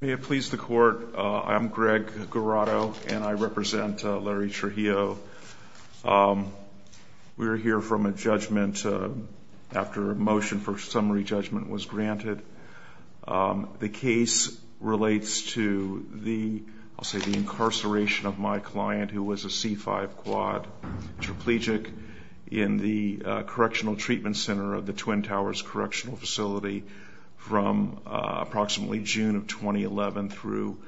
May it please the court, I'm Greg Guarado and I represent Larry Trujillo. We're here from a judgment after a motion for summary judgment was granted. The case relates to the, I'll say the incarceration of my client who was a C5 quad trapegic in the Correctional Treatment Center of the Twin Towers Correctional Facility from approximately June of 2011 through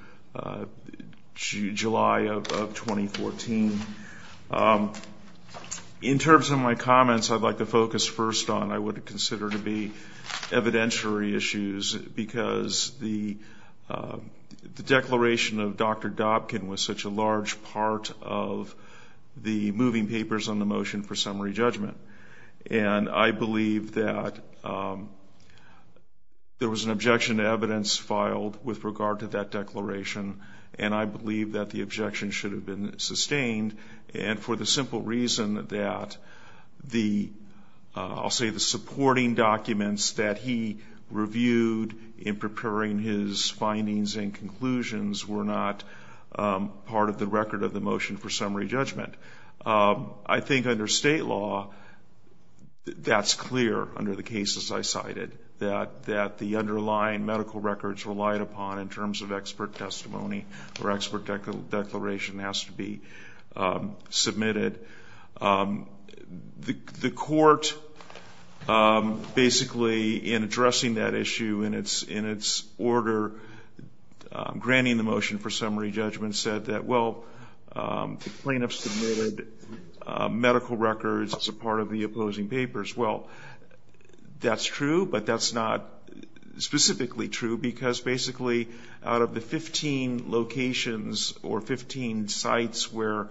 July of 2014. In terms of my comments I'd like to focus first on I would consider to be evidentiary issues because the declaration of Dr. Dobkin was such a large part of the moving papers on the motion for summary judgment and I believe that there was an objection to evidence filed with regard to that declaration and I believe that the objection should have been sustained and for the simple reason that the, I'll say the supporting documents that he reviewed in preparing his findings and conclusions were not part of the record of the motion for summary judgment. I think under state law that's clear under the cases I cited that that the underlying medical records relied upon in terms of expert testimony or expert declaration has to be submitted. The court basically in addressing that issue in its order granting the plaintiff's medical records as a part of the opposing papers. Well that's true but that's not specifically true because basically out of the 15 locations or 15 sites where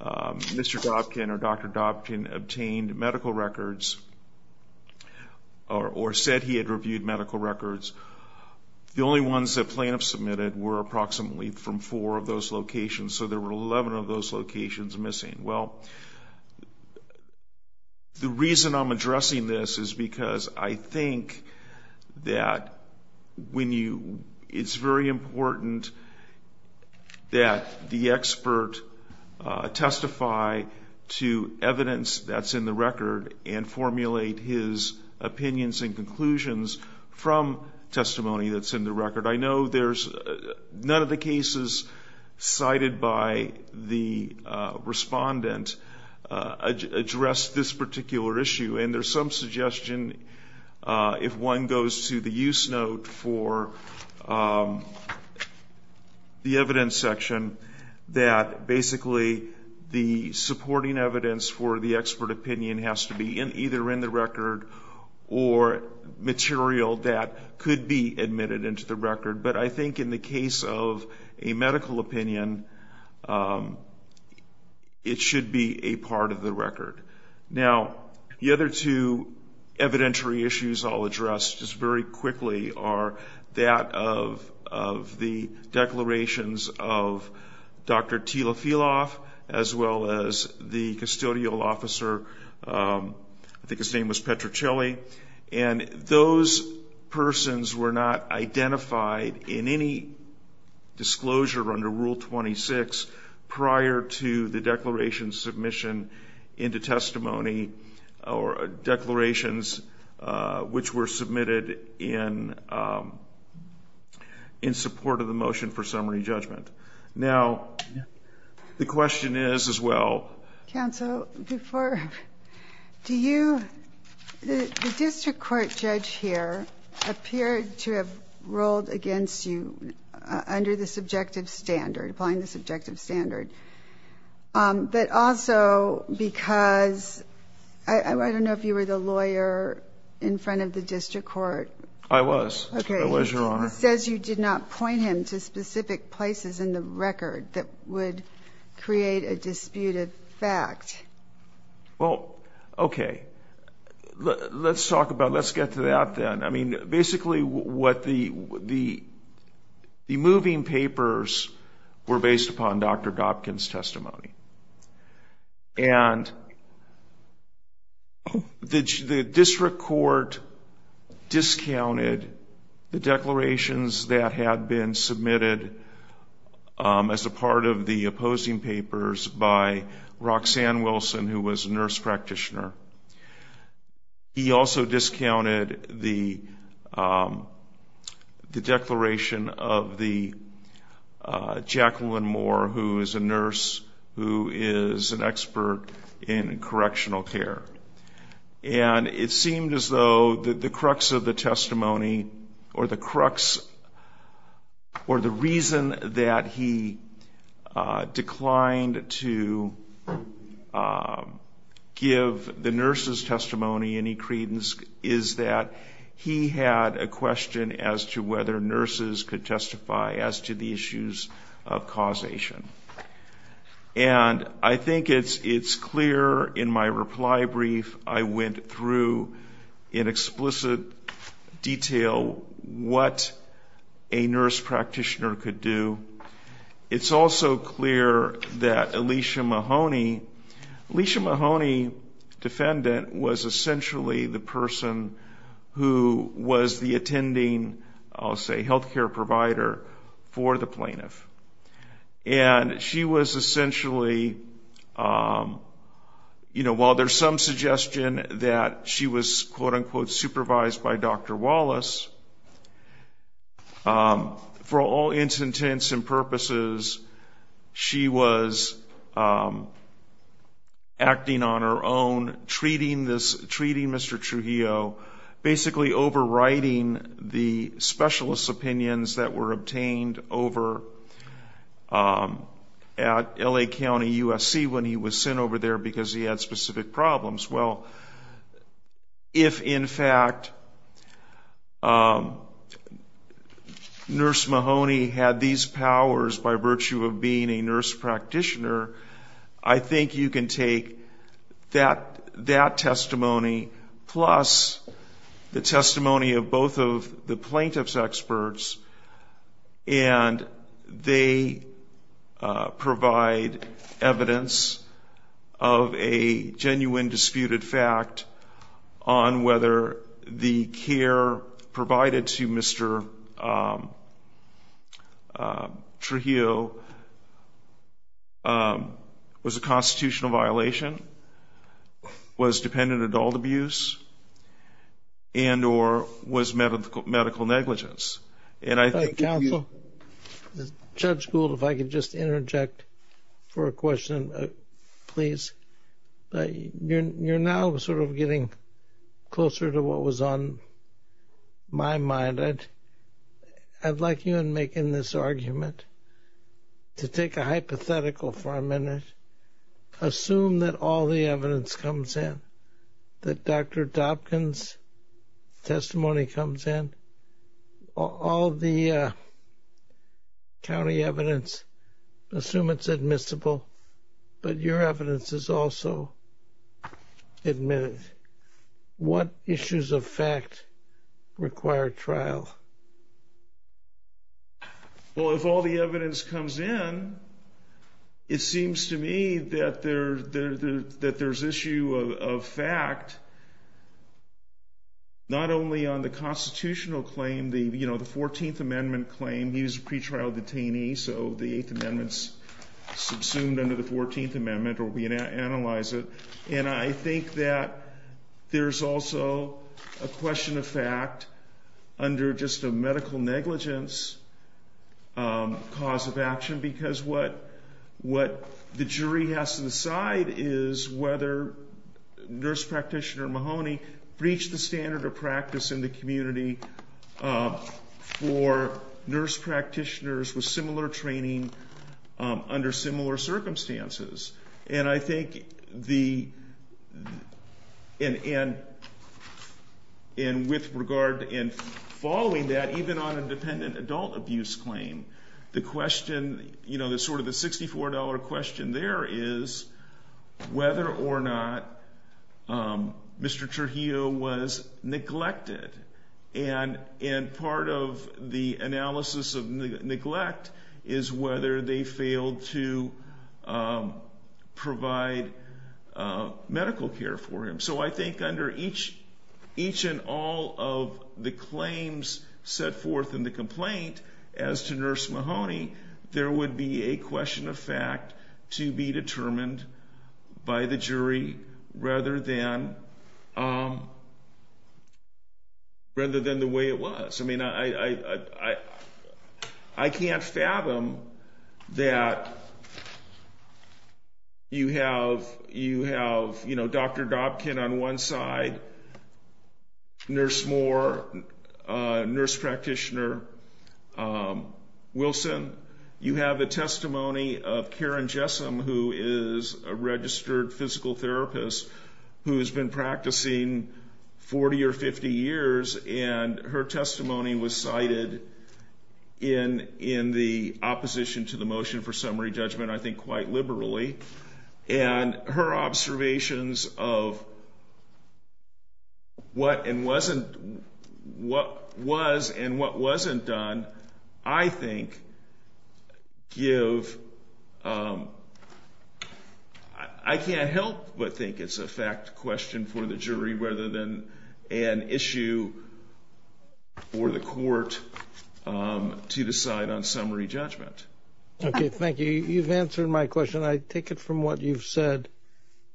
Mr. Dobkin or Dr. Dobkin obtained medical records or said he had reviewed medical records the only ones that plaintiffs submitted were approximately from four of those locations so there were 11 of those locations missing. Well the reason I'm addressing this is because I think that when you, it's very important that the expert testify to evidence that's in the record and formulate his opinions and conclusions from testimony that's in the record. None of the cases cited by the respondent addressed this particular issue and there's some suggestion if one goes to the use note for the evidence section that basically the supporting evidence for the expert opinion has to be in either in the record or material that could be admitted into the record but I think in the case of a medical opinion it should be a part of the record. Now the other two evidentiary issues I'll address just very quickly are that of the declarations of Dr. Tila Filof as well as the custodial officer, I think his persons were not identified in any disclosure under Rule 26 prior to the declaration submission into testimony or declarations which were submitted in in support of the motion for summary judgment. Now the question is as well counsel before do you the district court judge here appeared to have rolled against you under the subjective standard applying the subjective standard but also because I don't know if you were the lawyer in front of the district court. I was, I was your honor. He says you did not point him to specific places in the record that would create a disputed fact. Well okay let's talk about let's get to that then I mean basically what the the the moving papers were based upon Dr. Gopkin's testimony and the district court discounted the as a part of the opposing papers by Roxanne Wilson who was a nurse practitioner. He also discounted the the declaration of the Jacqueline Moore who is a nurse who is an expert in correctional care and it seemed as though the crux of the testimony or the crux or the reason that he declined to give the nurses testimony any credence is that he had a question as to whether nurses could testify as to the issues of causation and I think it's it's clear in my reply brief I went through in explicit detail what a nurse practitioner could do. It's also clear that Alicia Mahoney, Alicia Mahoney defendant was essentially the person who was the attending I'll say health care provider for the plaintiff and she was essentially you know while there's some suggestion that she was quote-unquote supervised by Dr. Wallace for all intents and purposes she was acting on her own treating this treating Mr. Trujillo basically overriding the specialist opinions that were obtained over at LA County USC when he was sent over there because he had specific problems. Well if in fact nurse Mahoney had these powers by virtue of being a nurse practitioner I think you can take that that testimony plus the testimony of both of the plaintiff's experts and they provide evidence of a genuine disputed fact on whether the care provided to Mr. Trujillo was a constitutional violation was dependent adult abuse and or was medical medical negligence and I think counsel, Judge Gould if I could just interject for a question please. You're now sort of getting closer to what was on my mind I'd like you and make in this argument to take a hypothetical for a minute assume that all the evidence comes in that Dr. Dobkins testimony comes in all the county evidence assume it's admissible but your evidence is also admitted. What issues of fact require trial? Well if all the evidence comes in it seems to me that there's issue of fact not only on the constitutional claim the you know the subsumed under the 14th amendment or we analyze it and I think that there's also a question of fact under just a medical negligence cause of action because what what the jury has to decide is whether nurse practitioner Mahoney breached the standard of practice in the community for nurse practitioners with similar training under similar circumstances and I think the and with regard in following that even on a dependent adult abuse claim the question you know the sort of the $64 question there is whether or not Mr. Trujillo was neglected and in part of the analysis of neglect is whether they failed to provide medical care for him so I think under each each and all of the claims set forth in the complaint as to nurse Mahoney there would be a question of fact to be determined by the jury rather than the way it was. I mean I can't fathom that you have you know Dr. Dobkin on one side, Nurse Moore, nurse Karen Jessam who is a registered physical therapist who's been practicing 40 or 50 years and her testimony was cited in in the opposition to the motion for summary judgment I think quite liberally and her I can't help but think it's a fact question for the jury rather than an issue for the court to decide on summary judgment. Okay thank you you've answered my question I take it from what you've said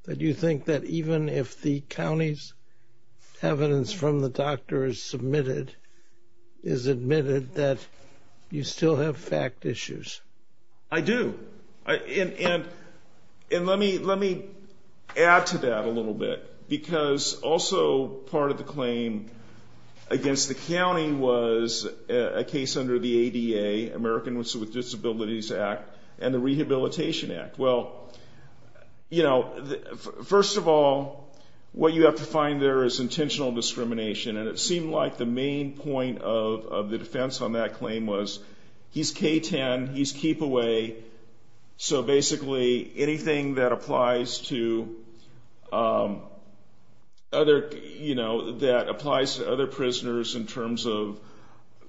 that you think that even if the county's evidence from the doctor is submitted is admitted that you still have fact issues. I do and let me let me add to that a little bit because also part of the claim against the county was a case under the ADA American with Disabilities Act and the Rehabilitation Act well you know first of all what you have to find there is intentional discrimination and it seemed like the main point of the defense on that claim was he's k-10 he's keep away so basically anything that applies to other you know that applies to other prisoners in terms of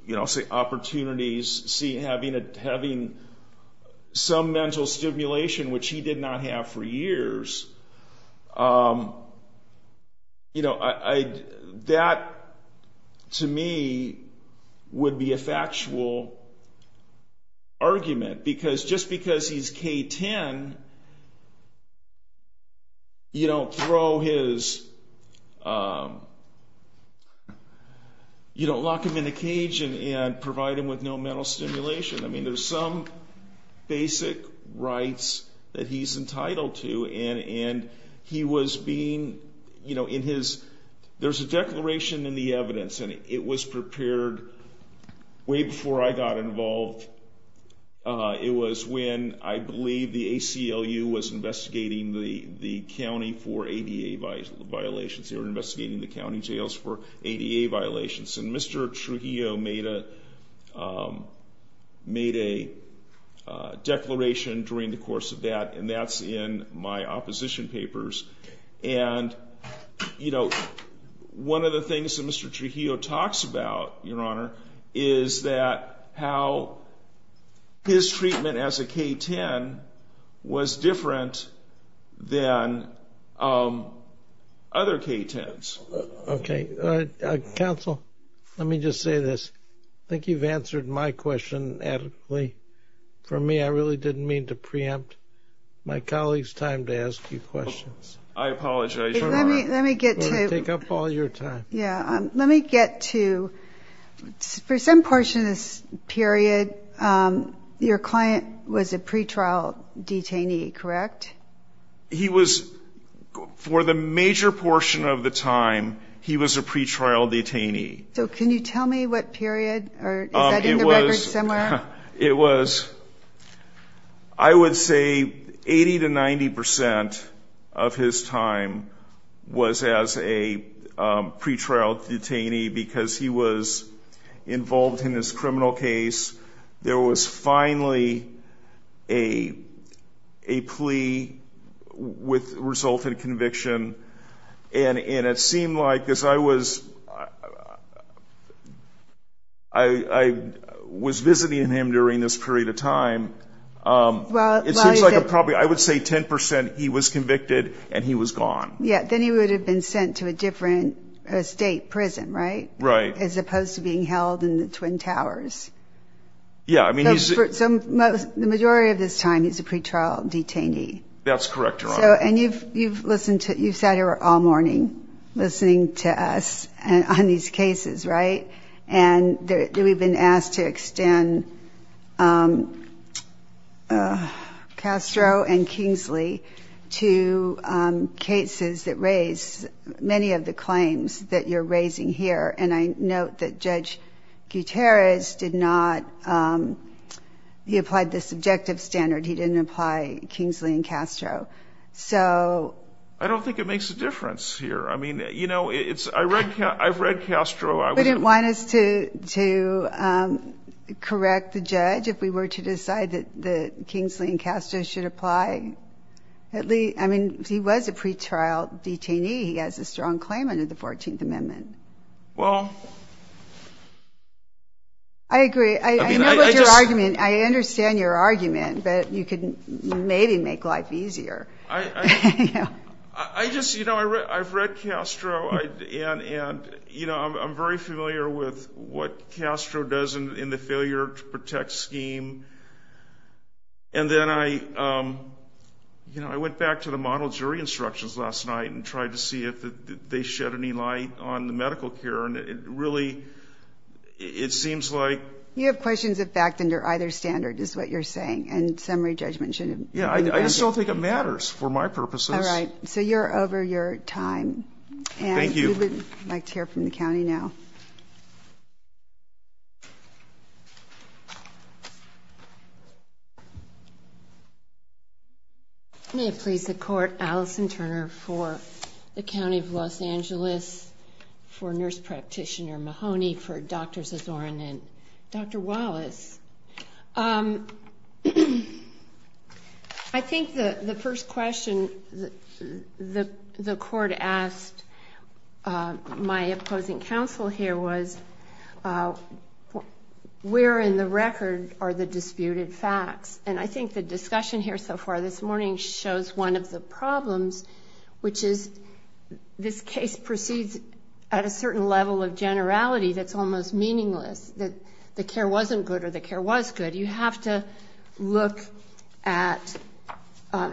you know say opportunities see having a having some mental stimulation which he did not have for years you know I that to me would be a factual argument because just because he's k-10 you don't throw his you don't lock him in a cage and provide him with no mental stimulation I mean there's some basic rights that he's entitled to and he was being you know in his there's a declaration in the evidence and it was prepared way before I got involved it was when I believe the ACLU was investigating the county for ADA violations they were investigating the county jails for ADA violations and Mr. Trujillo made a made a declaration during the course of that and that's in my opposition papers and you know one of the things that Mr. Trujillo talks about your honor is that how his treatment as a k-10 was different than other k-10s okay counsel let me just say this I think you've answered my question adequately for me I really didn't mean to preempt my colleagues time to ask you questions I apologize let me get to take up all your time yeah let me get to for some portion of this period your client was a pretrial detainee correct he was for the major portion of the time he was a pretrial detainee so can you tell me what period it was it was I would say eighty to ninety percent of his time was as a pretrial detainee because he was involved in this criminal case there was finally a plea with resulted conviction and it seemed like as I was I was visiting him during this period of time I would say ten percent he was convicted and he was gone yeah then he would have been sent to a different state prison right right as opposed to being held in the Twin Towers yeah I mean he's some most the majority of this time he's a pretrial detainee that's correct so and you've you've listened to you sat here all morning listening to us and on these cases right and there we've been asked to extend Castro and Kingsley to cases that raise many of the claims that you're raising here and I note that judge Gutierrez did not he applied the subjective standard he didn't apply Kingsley and Castro so I don't think it makes a difference here I mean you know it's I read I've read Castro I wouldn't want us to to correct the judge if we were to decide that the Kingsley and Castro should apply at least I mean he was a pretrial detainee he has a strong claim under the 14th Amendment well I agree I mean I understand your argument but you could maybe make life easier I just you know I've read Castro and you know I'm very familiar with what Castro does in the failure to protect scheme and then I you know I went back to the jury instructions last night and tried to see if they shed any light on the medical care and it really it seems like you have questions of fact under either standard is what you're saying and summary judgment shouldn't yeah I just don't think it matters for my purposes all right so you're over your time thank you like to hear from the county now may it please the court Allison Turner for the county of Los Angeles for nurse practitioner Mahoney for doctors Azorin and dr. Wallace I think the the first question the the court asked my opposing counsel here was where in the record are the disputed facts and I think the discussion here so far this morning shows one of the problems which is this case proceeds at a certain level of generality that's almost meaningless that the care wasn't good or the care was good you have to look at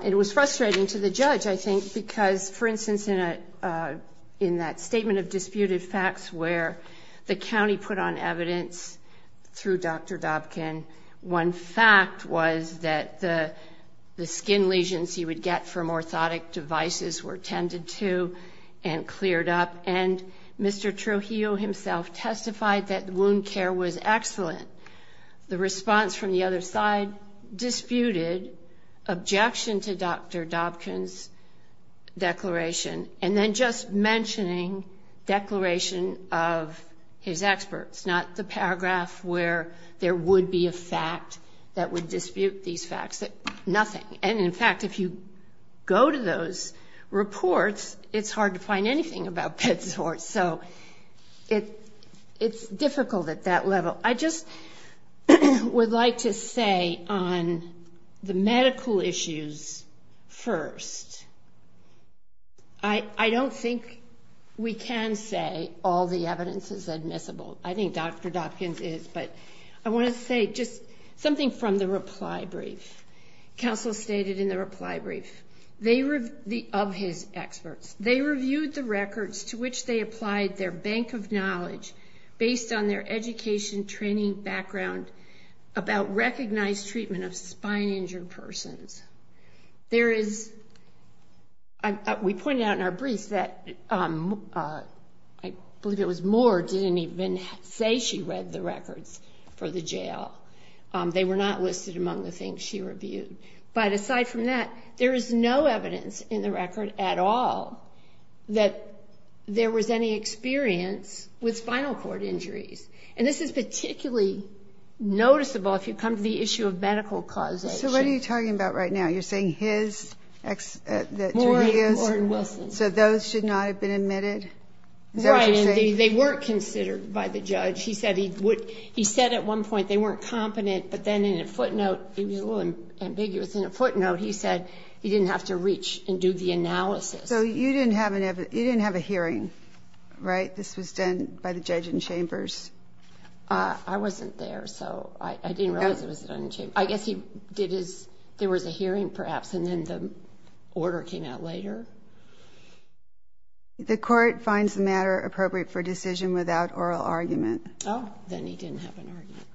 it was frustrating to the judge I think because for instance in a in that statement of disputed facts where the county put on evidence through dr. Dobkin one fact was that the the skin lesions he would get from orthotic devices were tended to and cleared up and mr. Trujillo himself testified that the wound care was excellent the response from the other side disputed objection to dr. Dobkin's declaration and then just mentioning declaration of his experts not the paragraph where there would be a fact that would dispute these facts that nothing and in fact if you go to those reports it's hard to find anything about pets or so it it's difficult at that level I just would like to say on the medical issues first I I don't think we can say all the evidence is admissible I think dr. Dobkins is but I want to say just something from the reply brief counsel stated in the reply brief they were the of his experts they reviewed the records to which they applied their bank of knowledge based on their education training background about recognized treatment of spine injured persons there is we pointed out in our briefs that I believe it was more didn't even say she read the records for the jail they were not listed among the things she reviewed but aside from that there is no evidence in the record at all that there was any experience with spinal cord injuries and this is particularly noticeable if you come to the issue of medical cause so what are you talking about right now you're saying his so those should not have been admitted they weren't considered by the judge he said he would he said at one point they weren't competent but then in a footnote he was a little ambiguous in a footnote he said he didn't have to reach and do the analysis so you didn't have enough you didn't have a hearing right this was done by the judge in chambers I wasn't there so I guess he did is there was a hearing perhaps and then the order came out later the court finds the matter appropriate for decision without oral argument oh then he didn't have an argument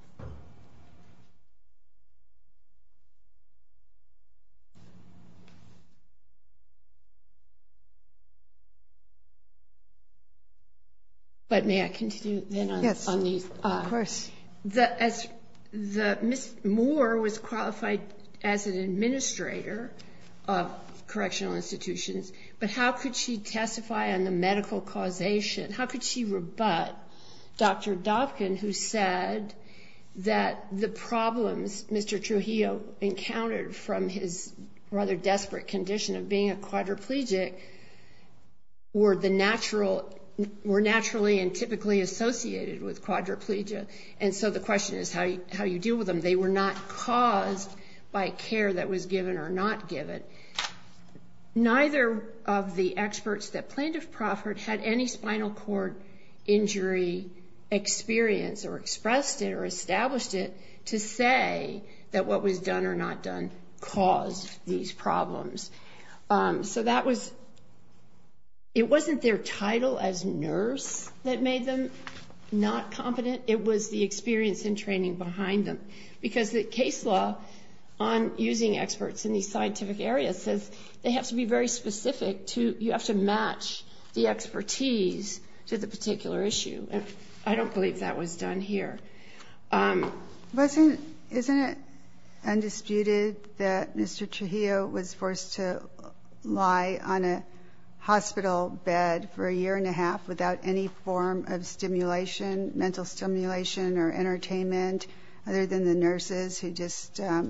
but may I continue yes on these of course that as the miss more was qualified as an administrator of correctional institutions but how could she testify on the medical causation how could she rebut dr. Dobkin who said that the problems mr. Trujillo encountered from his rather desperate condition of being a quadriplegic or the natural were naturally and typically associated with quadriplegia and so the question is how you how you deal with them they were not experts that plaintiff proffered had any spinal cord injury experience or expressed or established it to say that what was done or not done cause these problems so that was it wasn't their title as nurse that made them not competent it was the experience and training behind them because the case law on using experts in the scientific area says they have to be very specific to you have to match the expertise to the particular issue and I don't believe that was done here wasn't it undisputed that mr. Trujillo was forced to lie on a hospital bed for a year and a half without any form of stimulation mental stimulation or entertainment other than the nurses who just the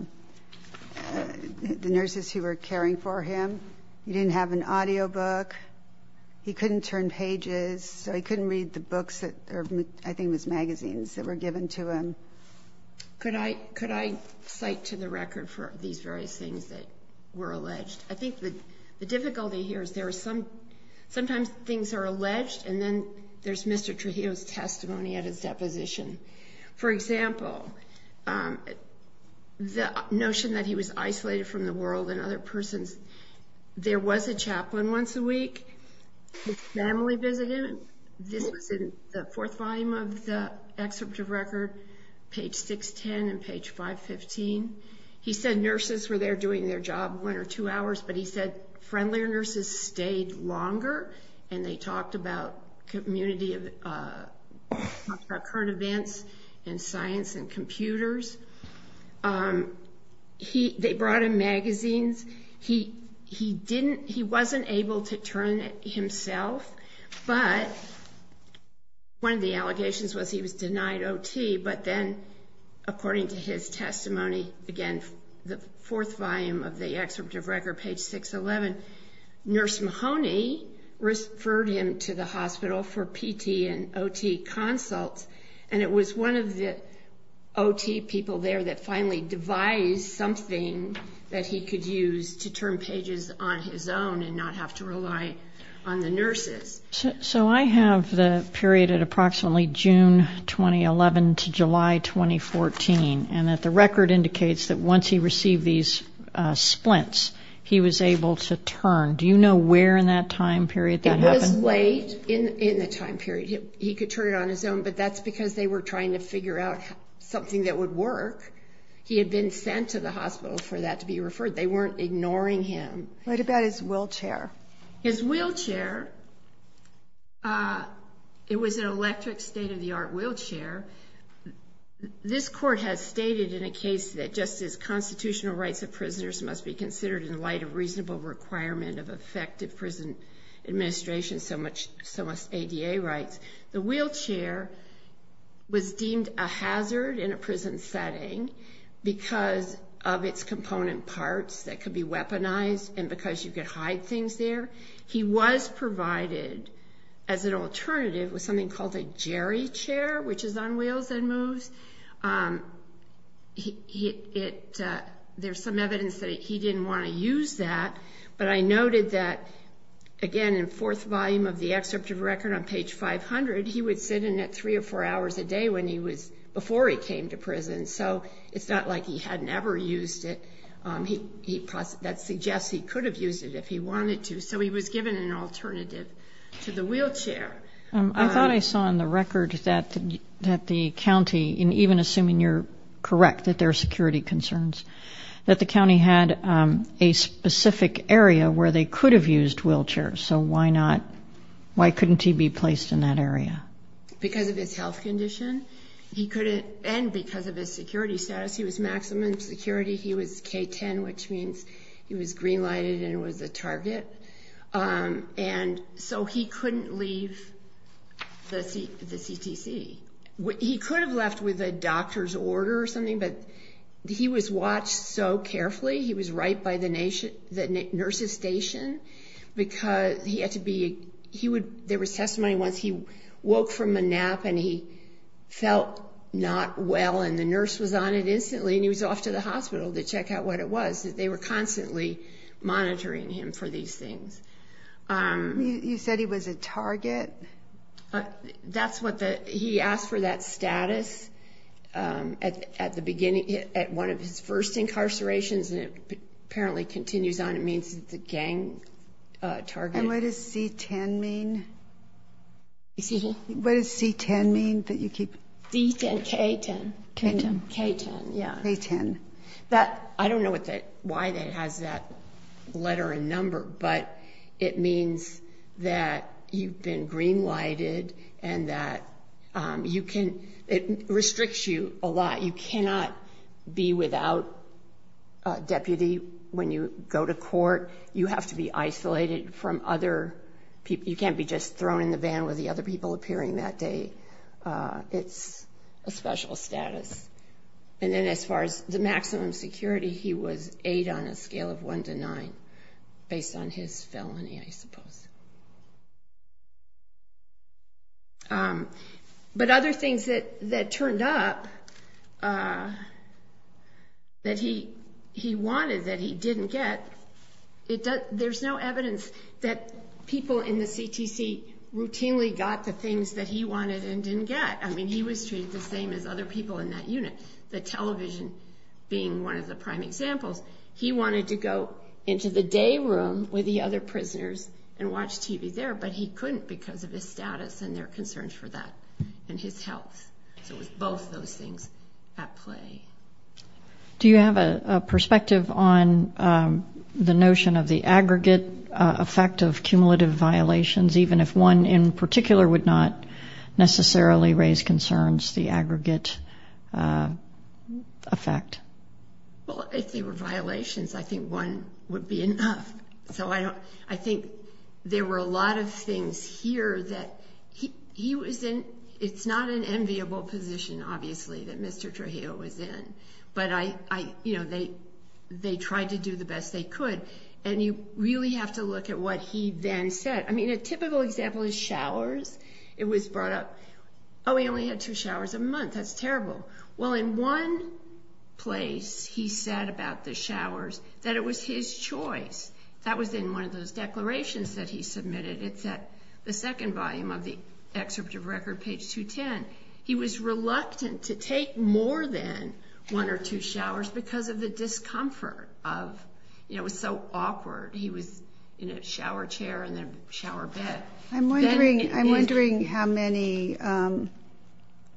nurses who were caring for him didn't have an audio book he couldn't turn pages so I couldn't read the books that I think was magazines that were given to him could I could I cite to the record for these various things that were alleged I think that the difficulty here is there is some sometimes things are alleged and then there's Mr. Trujillo's testimony at his deposition for example the notion that he was isolated from the persons there was a chaplain once a week his family visited him this was in the fourth volume of the excerpt of record page 610 and page 515 he said nurses were there doing their job one or two hours but he said friendlier nurses stayed longer and they talked about community of current events and science and computers he brought in magazines he he didn't he wasn't able to turn himself but one of the allegations was he was denied OT but then according to his testimony again the fourth volume of the excerpt of record page 611 nurse Mahoney referred him to the hospital for PT and OT consults and it was one of the OT people there that finally devised something that he could use to turn pages on his own and not have to rely on the nurses so I have the period at approximately June 2011 to July 2014 and that the record indicates that once he received these splints he was able to turn do you know where in that time period it was late in in the time period he could turn it on his own but that's because they were trying to figure out something that would work he had been sent to the hospital for that to be referred they weren't ignoring him. What about his wheelchair? His wheelchair it was an electric state-of-the-art wheelchair this court has stated in a case that just as constitutional rights of prisoners must be considered in light of reasonable requirement of effective prison administration so much so much ADA rights the wheelchair was deemed a hazard in a prison setting because of its component parts that could be weaponized and because you could hide things there he was provided as an alternative with something called a Jerry chair which is on wheels and moves it there's some evidence that he didn't want to use that but I noted that again in fourth volume of the excerpt of record on page 500 he would sit in it three or four hours a day when he was before he came to prison so it's not like he had never used it he that suggests he could have used it if he wanted to so he was given an alternative to the wheelchair. I thought I saw in the record that that the county in even assuming you're correct that their security concerns that the county had a specific area where they could have used wheelchairs so why not why couldn't he be placed in that area? Because of his health condition he couldn't and because of his security status he was maximum security he was k-10 which means he was green-lighted and it was a target and so he couldn't leave the CTC. He could have left with a doctor's order or something but he was watched so carefully he was right by the nurses station because he had to be he would there was testimony once he woke from a nap and he felt not well and the nurse was on it instantly and he was off to the hospital to check out what it was that they were constantly monitoring him for these things. You said he was a target? That's what the he asked for that status at the beginning at one of his first incarcerations and it apparently continues on it means the gang target. And what does C10 mean? What does C10 mean that you keep? C10, K10. K10 yeah. That I don't know what that why that has that letter and number but it means that you've been green-lighted and that you it restricts you a lot you cannot be without deputy when you go to court you have to be isolated from other people you can't be just thrown in the van with the other people appearing that day it's a special status and then as far as the maximum security he was eight on a scale of one to nine based on his felony I things that that turned up that he he wanted that he didn't get it does there's no evidence that people in the CTC routinely got the things that he wanted and didn't get I mean he was treated the same as other people in that unit the television being one of the prime examples he wanted to go into the day room with the other prisoners and watch TV there but he couldn't because of his status and their concerns for that and his health so it was both those things at play do you have a perspective on the notion of the aggregate effect of cumulative violations even if one in particular would not necessarily raise concerns the aggregate effect well if they were violations I think one would be enough so I don't I think there were a lot of things here that he was in it's not an enviable position obviously that mr. Trujillo was in but I you know they they tried to do the best they could and you really have to look at what he then said I mean a typical example is showers it was brought up oh we only had two showers a month that's terrible well in one place he said about the showers that it was his choice that was in one of those declarations that he submitted it's at the second volume of the excerpt of record page 210 he was reluctant to take more than one or two showers because of the discomfort of you know it was so awkward he was in a shower chair and then shower bed I'm wondering I'm at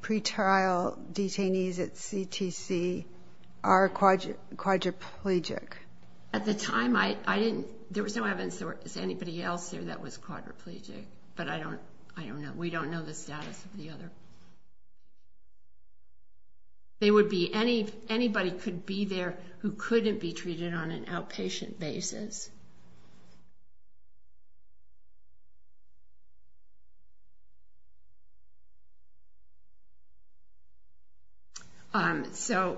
the time I I didn't there was no evidence there was anybody else there that was quadriplegic but I don't I don't know we don't know the status of the other they would be any anybody could be there who couldn't be treated on an outpatient basis you so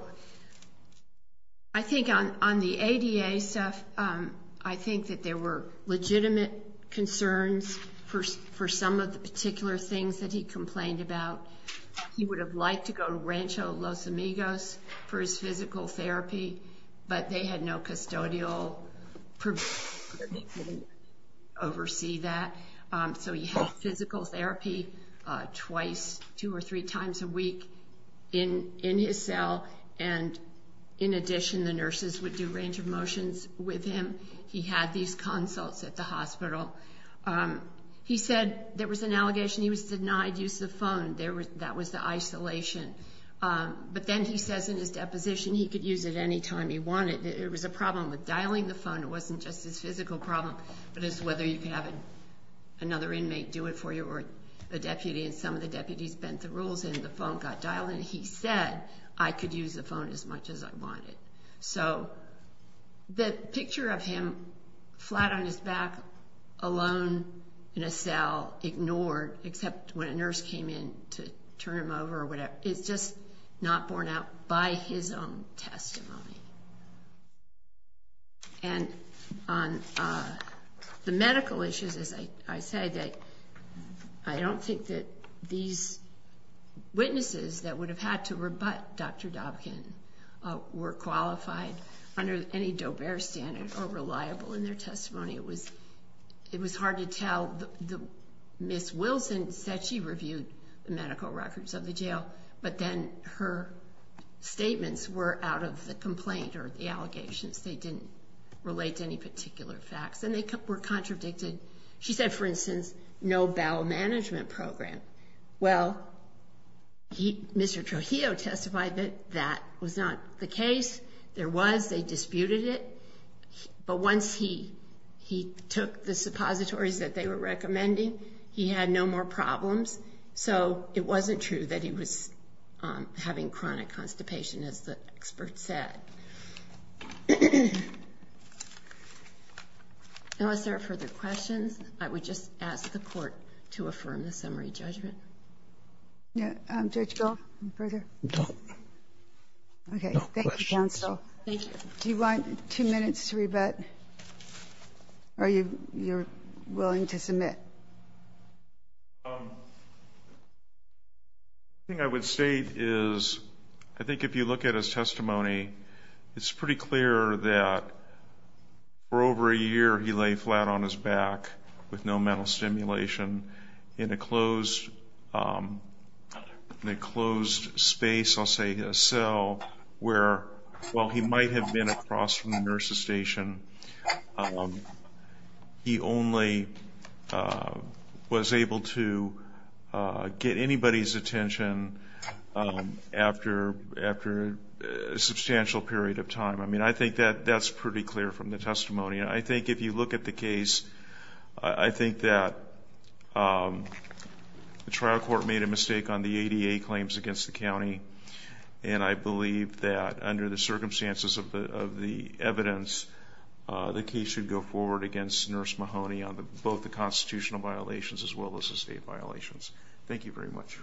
I think on on the ADA stuff I think that there were legitimate concerns for for some of the particular things that he complained about he would have liked to go to Rancho Los Amigos for his physical therapy but they had no oversee that so he had physical therapy twice two or three times a week in in his cell and in addition the nurses would do range of motions with him he had these consults at the hospital he said there was an allegation he was denied use the phone there was that was the isolation but then he says in his deposition he could use it anytime he wanted it was a problem with dialing the physical problem but it's whether you can have another inmate do it for you or a deputy and some of the deputies bent the rules and the phone got dialed and he said I could use the phone as much as I wanted so the picture of him flat on his back alone in a cell ignored except when a nurse came in to turn him it's just not borne out by his own testimony and on the medical issues as I say that I don't think that these witnesses that would have had to rebut dr. Dobkin were qualified under any dober standard or reliable in their testimony it was it was hard to tell the miss Wilson said she reviewed the jail but then her statements were out of the complaint or the allegations they didn't relate to any particular facts and they were contradicted she said for instance no bowel management program well he mr. Trujillo testified that that was not the case there was they disputed it but once he he took the suppositories that they were recommending he had no more problems so it wasn't true that he was having chronic constipation as the expert said unless there are further questions I would just ask the court to affirm the summary judgment yeah I'm church go further okay thank you do you want two thing I would state is I think if you look at his testimony it's pretty clear that for over a year he lay flat on his back with no mental stimulation in a closed they closed space I'll say his cell where well he might have been across from the nurse's station he only was able to get anybody's attention after after a substantial period of time I mean I think that that's pretty clear from the testimony I think if you look at the case I think that the trial court made a mistake on the ADA claims against the county and I believe that under the evidence the case should go forward against nurse Mahoney on the both the constitutional violations as well as the state violations thank you very much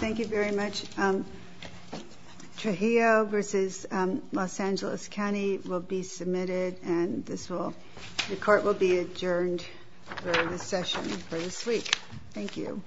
thank you very much Trujillo versus Los Angeles County will be submitted and this will the court will be adjourned for this session for this week thank you